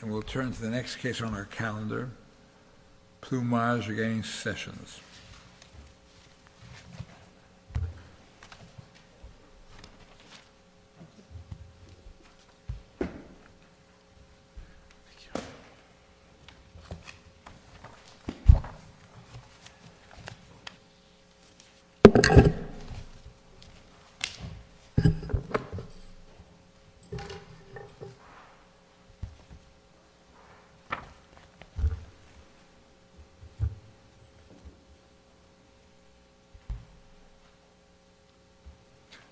And we'll turn to the next case on our calendar, Pllumaj v. Sessions.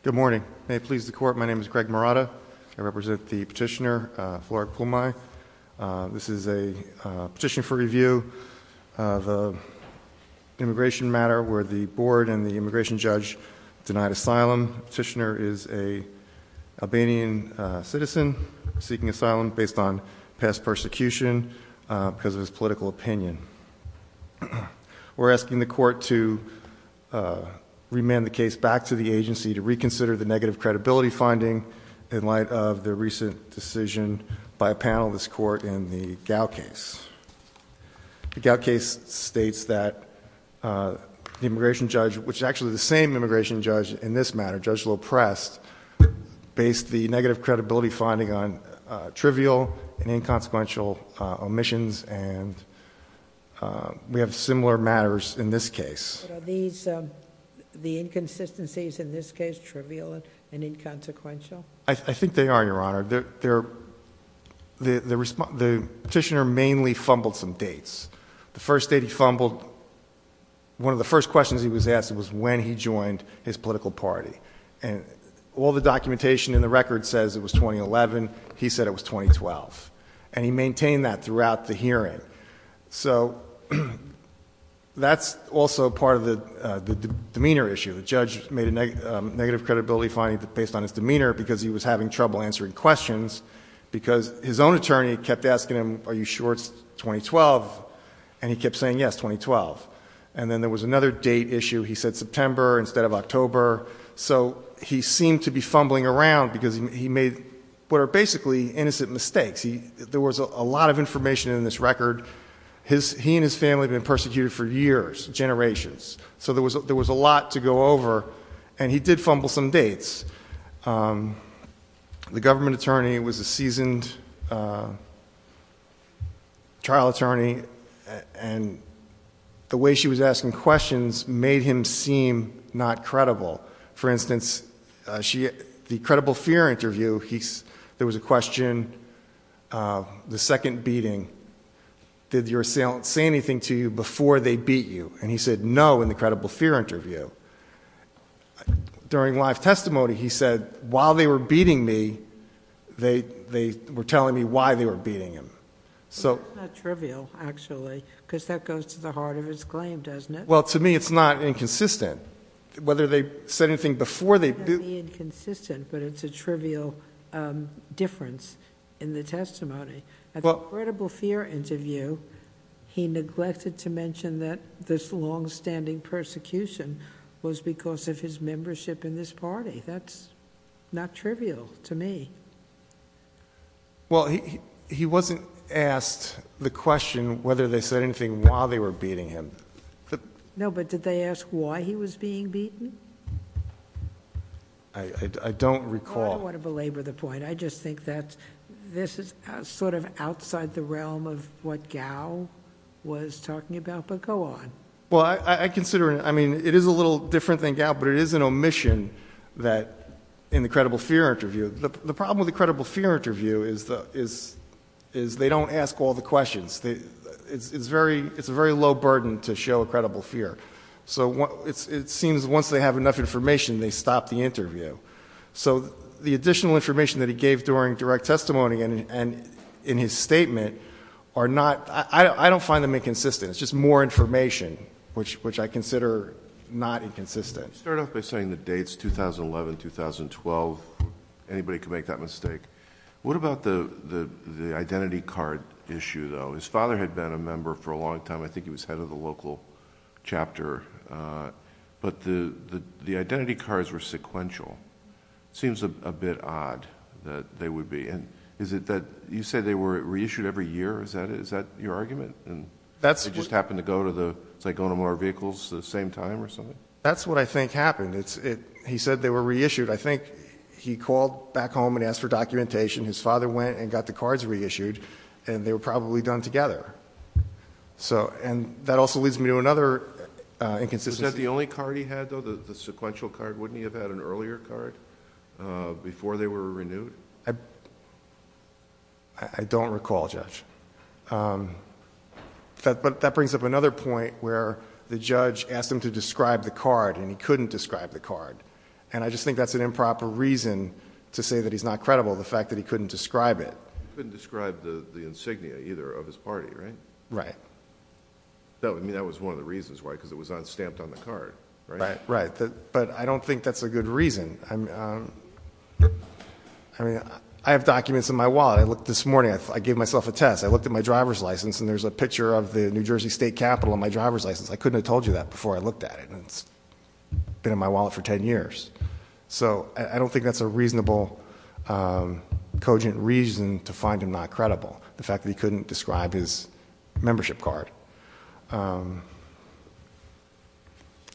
Good morning. May it please the Court, my name is Greg Marotta. I represent the petitioner, Flora Pllumaj. This is a petition for review of an immigration matter where the board and the immigration judge denied asylum. The petitioner is an Albanian citizen seeking asylum based on past persecution because of his political opinion. We're asking the Court to remand the case back to the agency to reconsider the negative credibility finding in light of the recent decision by a panel of this Court in the Gow case. The Gow case states that the immigration judge, which is actually the same immigration judge in this matter, Judge Loprest, based the negative credibility finding on trivial and inconsequential omissions and we have similar matters in this case. Are the inconsistencies in this case trivial and inconsequential? I think they are, Your Honor. The petitioner mainly fumbled some dates. The first date he fumbled, one of the first questions he was asked was when he joined his political party. And all the documentation in the record says it was 2011. He said it was 2012. And he maintained that throughout the hearing. So that's also part of the demeanor issue. The judge made a negative credibility finding based on his demeanor because he was having trouble answering questions because his own attorney kept asking him, are you sure it's 2012? And he kept saying, yes, 2012. And then there was another date issue. He said September instead of October. So he seemed to be fumbling around because he made what are basically innocent mistakes. There was a lot of information in this record. He and his family had been persecuted for years, generations. So there was a lot to go over. And he did fumble some dates. The government attorney was a seasoned trial attorney and the way she was asking questions made him seem not credible. For instance, the credible fear interview, there was a question, the second beating, did your assailant say anything to you before they beat you? And he said no in the credible fear interview. During live testimony, he said while they were beating me, they were telling me why they were beating him. That's not trivial, actually, because that goes to the heart of his claim, doesn't it? Well, to me, it's not inconsistent. Whether they said anything before they beat me. It's not inconsistent, but it's a trivial difference in the testimony. At the credible fear interview, he neglected to mention that this longstanding persecution was because of his membership in this party. That's not trivial to me. Well, he wasn't asked the question whether they said anything while they were beating him. No, but did they ask why he was being beaten? I don't recall. I don't want to belabor the point. I just think that this is sort of outside the realm of what Gao was talking about, but go on. Well, I consider it, I mean, it is a little different than Gao, but it is an omission that in the credible fear interview, the problem with the credible fear interview is they don't ask all the questions. It's a very low burden to show a credible fear. So it seems once they have enough information, they stop the interview. So the additional information that he gave during direct testimony and in his statement are not, I don't find them inconsistent. It's just more information, which I consider not inconsistent. You started off by saying the dates, 2011, 2012. Anybody can make that mistake. What about the identity card issue though? His father had been a member for a long time. I think he was head of the local chapter, but the identity cards were sequential. It seems a bit odd that they would be. And is it that you say they were reissued every year? Is that it? Is that your argument? That's they just happened to go to the, say, go to more vehicles the same time or something? That's what I think happened. He said they were reissued. I think he called back home and asked for documentation. His father went and got the cards reissued and they were probably done together. So, and that also leads me to another inconsistency. Is that the only card he had though, the sequential card? Wouldn't he have had an earlier card before they were renewed? I don't recall, Judge. But that brings up another point where the judge asked him to describe the card and he couldn't describe the card. And I just think that's an improper reason to say that he's not credible, the fact that he couldn't describe it. He couldn't describe the insignia either of his party, right? Right. I mean, that was one of the reasons why, because it was not stamped on the card, right? Right. But I don't think that's a good reason. I mean, I have documents in my wallet. I looked this morning, I gave myself a test. I looked at my driver's license and there's a picture of the New Jersey State Capitol on my driver's license. I couldn't have told you that before I looked at it. It's been in my wallet for 10 years. So I don't think that's a reasonable, cogent reason to find him not credible, the fact that he couldn't describe his membership card.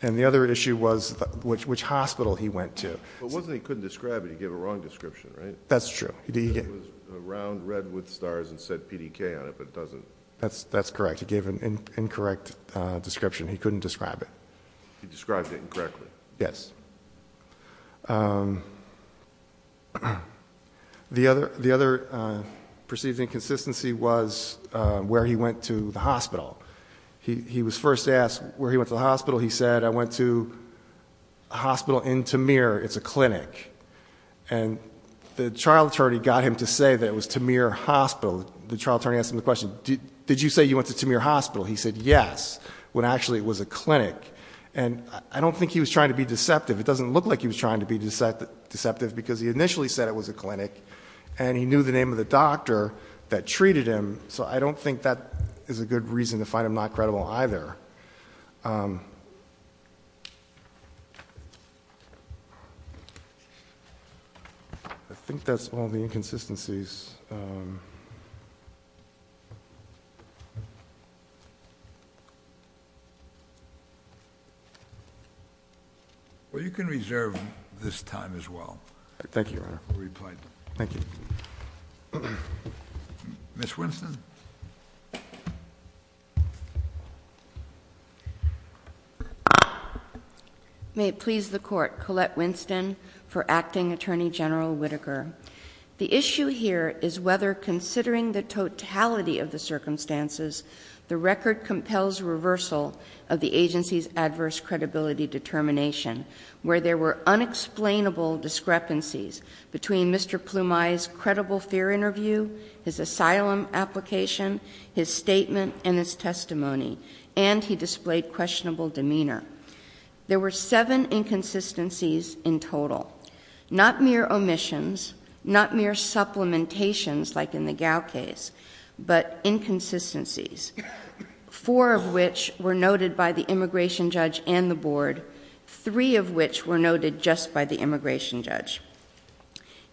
And the other issue was which hospital he went to. But it wasn't that he couldn't describe it. He gave a wrong description, right? That's true. He said it was a round red with stars and said PDK on it, but it doesn't. That's correct. He gave an incorrect description. He couldn't describe it. He described it incorrectly. Yes. The other perceived inconsistency was where he went to the hospital. He was first asked where he went to the hospital. He said, I went to a hospital in Tamir. It's a clinic. And the trial attorney got him to say that it was Tamir Hospital. The trial attorney asked him the question, did you say you went to Tamir Hospital? He said, yes, when actually it was a clinic. And I don't think he was trying to be deceptive. It doesn't look like he was trying to be deceptive because he initially said it was a clinic and he knew the name of the doctor that treated him. So I don't think that is a good reason to find him not credible either. I think that's all the inconsistencies. Well, you can reserve this time as well. Thank you, Your Honor. Ms. Winston. May it please the Court, Colette Winston for Acting Attorney General Whitaker. The issue here is whether considering the totality of the circumstances, the record compels reversal of the agency's adverse credibility determination, where there were unexplainable discrepancies between Mr. Ploumai's credible fear interview, his asylum application, his statement and his testimony, and he displayed questionable demeanor. There were seven inconsistencies in total, not mere omissions, not mere supplementations like in the Gao case, but inconsistencies, four of which were noted by the immigration judge and the board, three of which were noted just by the immigration judge.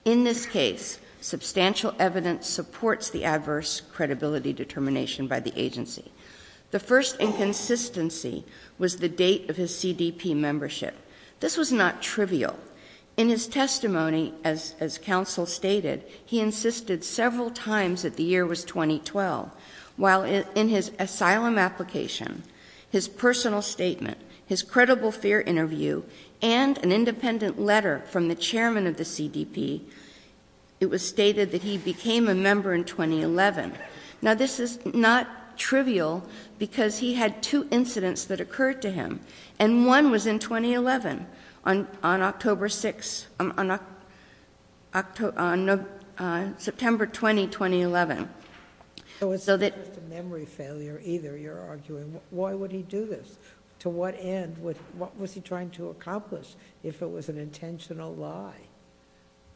In this case, substantial evidence supports the adverse credibility determination by the agency. The first inconsistency was the date of his CDP membership. This was not trivial. In his testimony, as counsel stated, he insisted several times that the year was 2012, while in his asylum application, his personal statement, his credible fear interview, and an independent letter from the chairman of the CDP, it was stated that he became a member in 2011. Now, this is not trivial, because he had two incidents that occurred to him, and one was in 2011, on October 6th, on September 20, 2011, and one was in 2011. So it's not just a memory failure, either, you're arguing. Why would he do this? To what end? What was he trying to accomplish, if it was an intentional lie?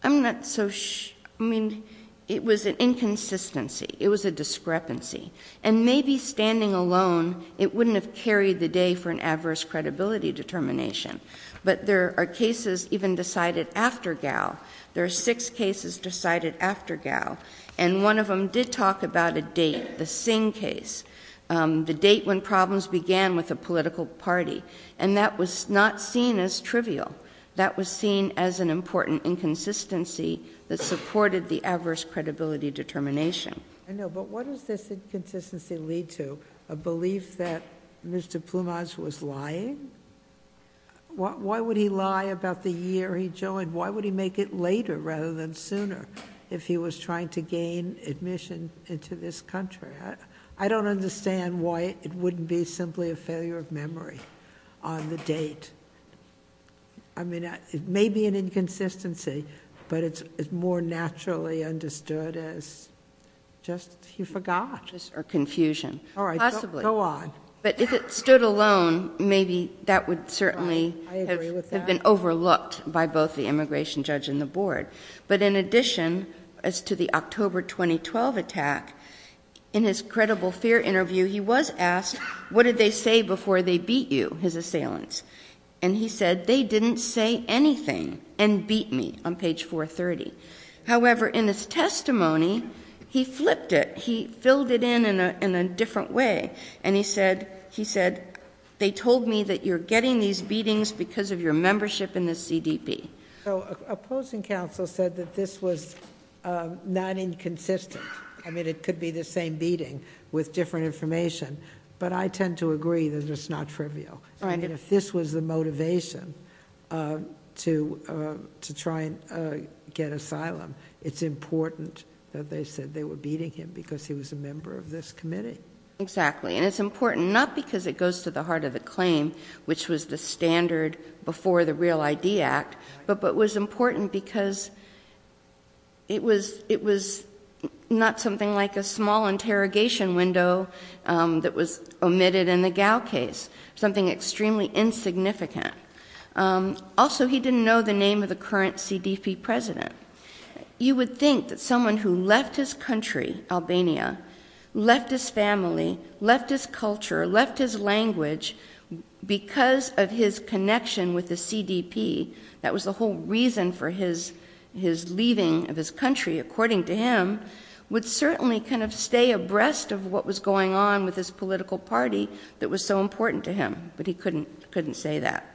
I'm not so sure. I mean, it was an inconsistency. It was a discrepancy. And maybe standing alone, it wouldn't have carried the day for an adverse credibility determination. But there are cases even decided after Gao. There are six cases decided after Gao. And one of them did talk about a date, the Singh case, the date when problems began with the political party. And that was not seen as trivial. That was seen as an important inconsistency that supported the adverse credibility determination. I know, but what does this inconsistency lead to? A belief that Mr. Plumage was lying? Why would he lie about the year he joined? Why would he make it later, rather than sooner, if he was trying to gain admission into this country? I don't understand why it wouldn't be simply a failure of memory on the date. I mean, it may be an inconsistency, but it's more naturally understood as, just, he forgot. Or confusion. All right, go on. But if it stood alone, maybe that would certainly have been overlooked by both the immigration judge and the board. But in addition, as to the October 2012 attack, in his credible fear interview, he was asked, what did they say before they beat you, his assailants? And he said, they didn't say anything, and beat me, on page 430. However, in his testimony, he flipped it. He filled it in, in a different way. And he said, they told me that you're getting these beatings because of your membership in the CDB. So opposing counsel said that this was non-inconsistent. I mean, it could be the same beating, with different information. But I tend to agree that it's not trivial. I mean, if this was the motivation to try and get asylum, it's important that they get it. But they said they were beating him because he was a member of this committee. Exactly. And it's important, not because it goes to the heart of the claim, which was the standard before the Real ID Act, but was important because it was not something like a small interrogation window that was omitted in the Gao case. Something extremely insignificant. Also, he didn't know the name of the current CDB president. You would think that someone who left his country, Albania, left his family, left his culture, left his language, because of his connection with the CDP, that was the whole reason for his leaving of his country, according to him, would certainly kind of stay abreast of what was going on with his political party that was so important to him. But he couldn't say that.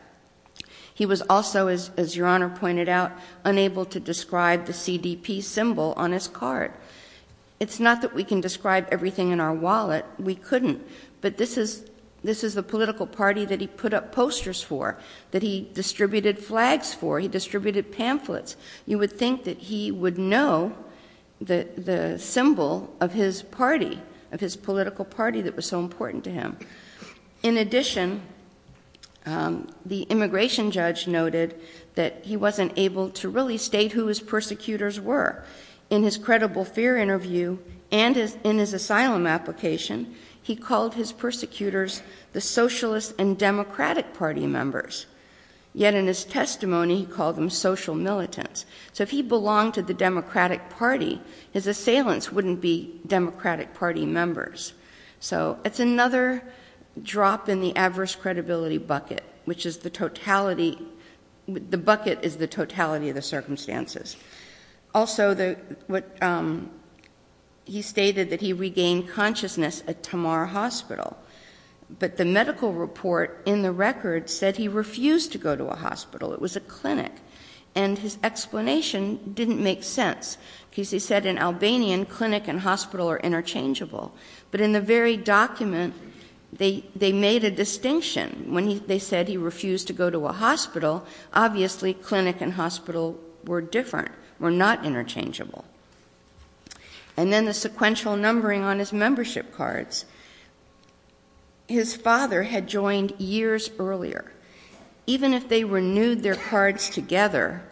He was also, as Your Honor pointed out, unable to describe the CDP symbol on his card. It's not that we can describe everything in our wallet. We couldn't. But this is the political party that he put up posters for, that he distributed flags for, he distributed pamphlets. You would think that he would know the symbol of his party, of his political party that was so important to him. In addition, the immigration judge noted that he wasn't able to really state who his persecutors were. In his credible fear interview and in his asylum application, he called his persecutors the Socialist and Democratic Party members. Yet in his testimony, he called them social militants. So if he belonged to the Democratic Party, his assailants wouldn't be Democratic Party members. So it's another drop in the adverse credibility bucket, which is the totality, the bucket is the totality of the circumstances. Also he stated that he regained consciousness at Tamar Hospital. But the medical report in the record said he refused to go to a hospital. It was a clinic. And his explanation didn't make sense because he said in Albanian, clinic and hospital are interchangeable. But in the very document, they made a distinction. When they said he refused to go to a hospital, obviously clinic and hospital were different, were not interchangeable. And then the sequential numbering on his membership cards. His father had joined years earlier. Even if they renewed their cards together,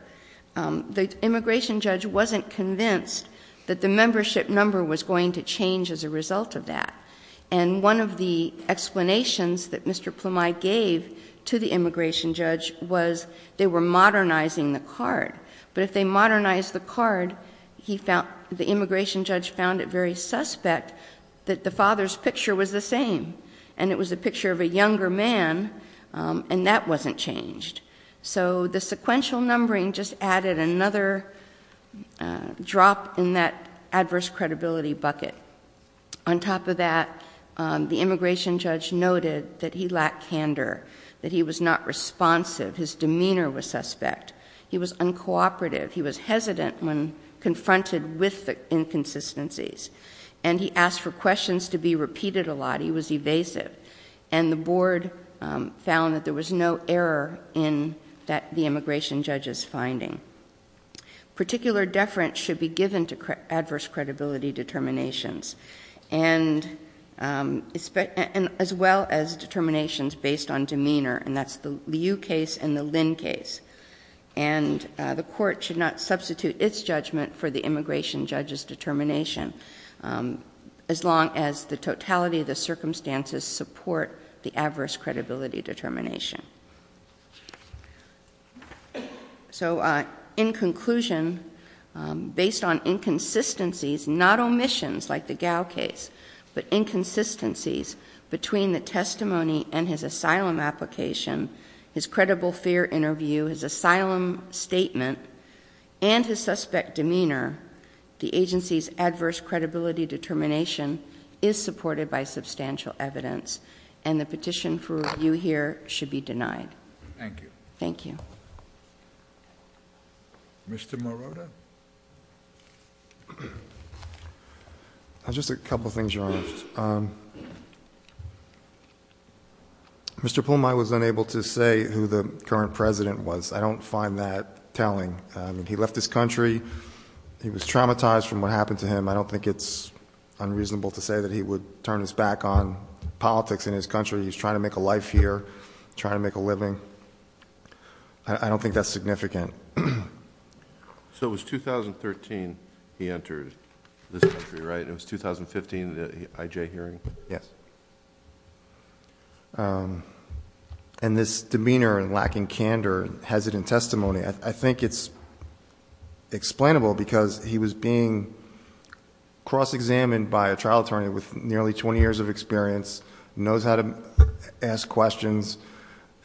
the immigration judge wasn't convinced that the membership number was going to change as a result of that. And one of the explanations that Mr. Plamei gave to the immigration judge was they were modernizing the card. But if they modernized the card, the immigration judge found it very suspect that the father's picture was the same. And it was a picture of a younger man. And that wasn't changed. So the sequential numbering just added another drop in that adverse credibility bucket. On top of that, the immigration judge noted that he lacked candor, that he was not responsive. His demeanor was suspect. He was uncooperative. He was hesitant when confronted with the inconsistencies. And he asked for deference. And the board found that there was no error in the immigration judge's finding. Particular deference should be given to adverse credibility determinations. And as well as determinations based on demeanor. And that's the Liu case and the Lin case. And the court should not substitute its judgment for the immigration judge's determination. As long as the totality of the circumstances support the adverse credibility determination. So in conclusion, based on inconsistencies, not omissions like the Gao case, but inconsistencies between the testimony and his asylum application, his credible fear interview, his asylum statement, and his suspect demeanor, the agency's adverse credibility determination is supported by substantial evidence. And the petition for review here should be denied. Thank you. Thank you. Mr. Morota? Just a couple things, Your Honor. Mr. Poulmai was unable to say who the current president was. I don't find that telling. He left this country. He was traumatized from what happened to him. I don't think it's unreasonable to say that he would turn his back on politics in his country. He's trying to make a life here. Trying to make a living. I don't think that's significant. So it was 2013 he entered this country, right? It was 2015, the IJ hearing? Yes. And this demeanor and lacking candor, hesitant testimony, I think it's explainable because he was being cross-examined by a trial attorney with nearly 20 years of experience, knows how to ask questions,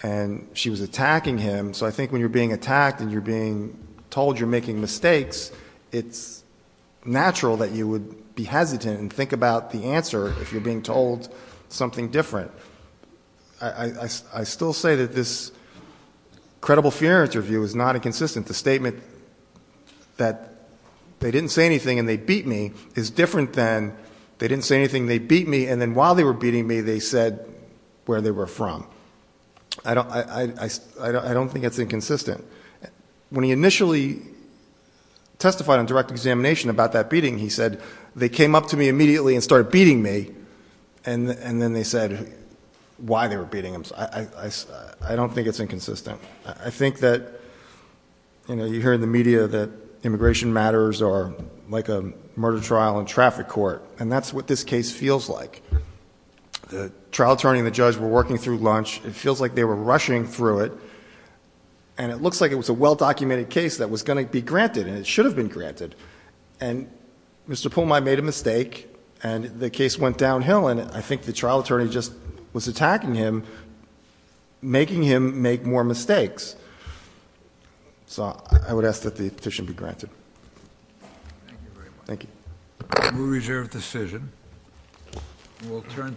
and she was attacking him. So I think when you're being attacked and you're being told you're making mistakes, it's natural that you would be hesitant and you're being told something different. I still say that this credible funeral interview is not inconsistent. The statement that they didn't say anything and they beat me is different than they didn't say anything, they beat me, and then while they were beating me they said where they were from. I don't think it's inconsistent. When he initially testified on direct examination about that beating, he said, they came up to me immediately and started beating me, and then they said why they were beating him. I don't think it's inconsistent. I think that you hear in the media that immigration matters are like a murder trial in traffic court, and that's what this case feels like. The trial attorney and the judge were working through lunch, it feels like they were rushing through it, and it looks like it was a well-documented case that was going to be granted and it should have been granted. And Mr. Pulmai made a mistake and the case went downhill and I think the trial attorney just was attacking him, making him make more mistakes. So I would ask that the petition be granted. Thank you very much. Thank you. We'll reserve the decision.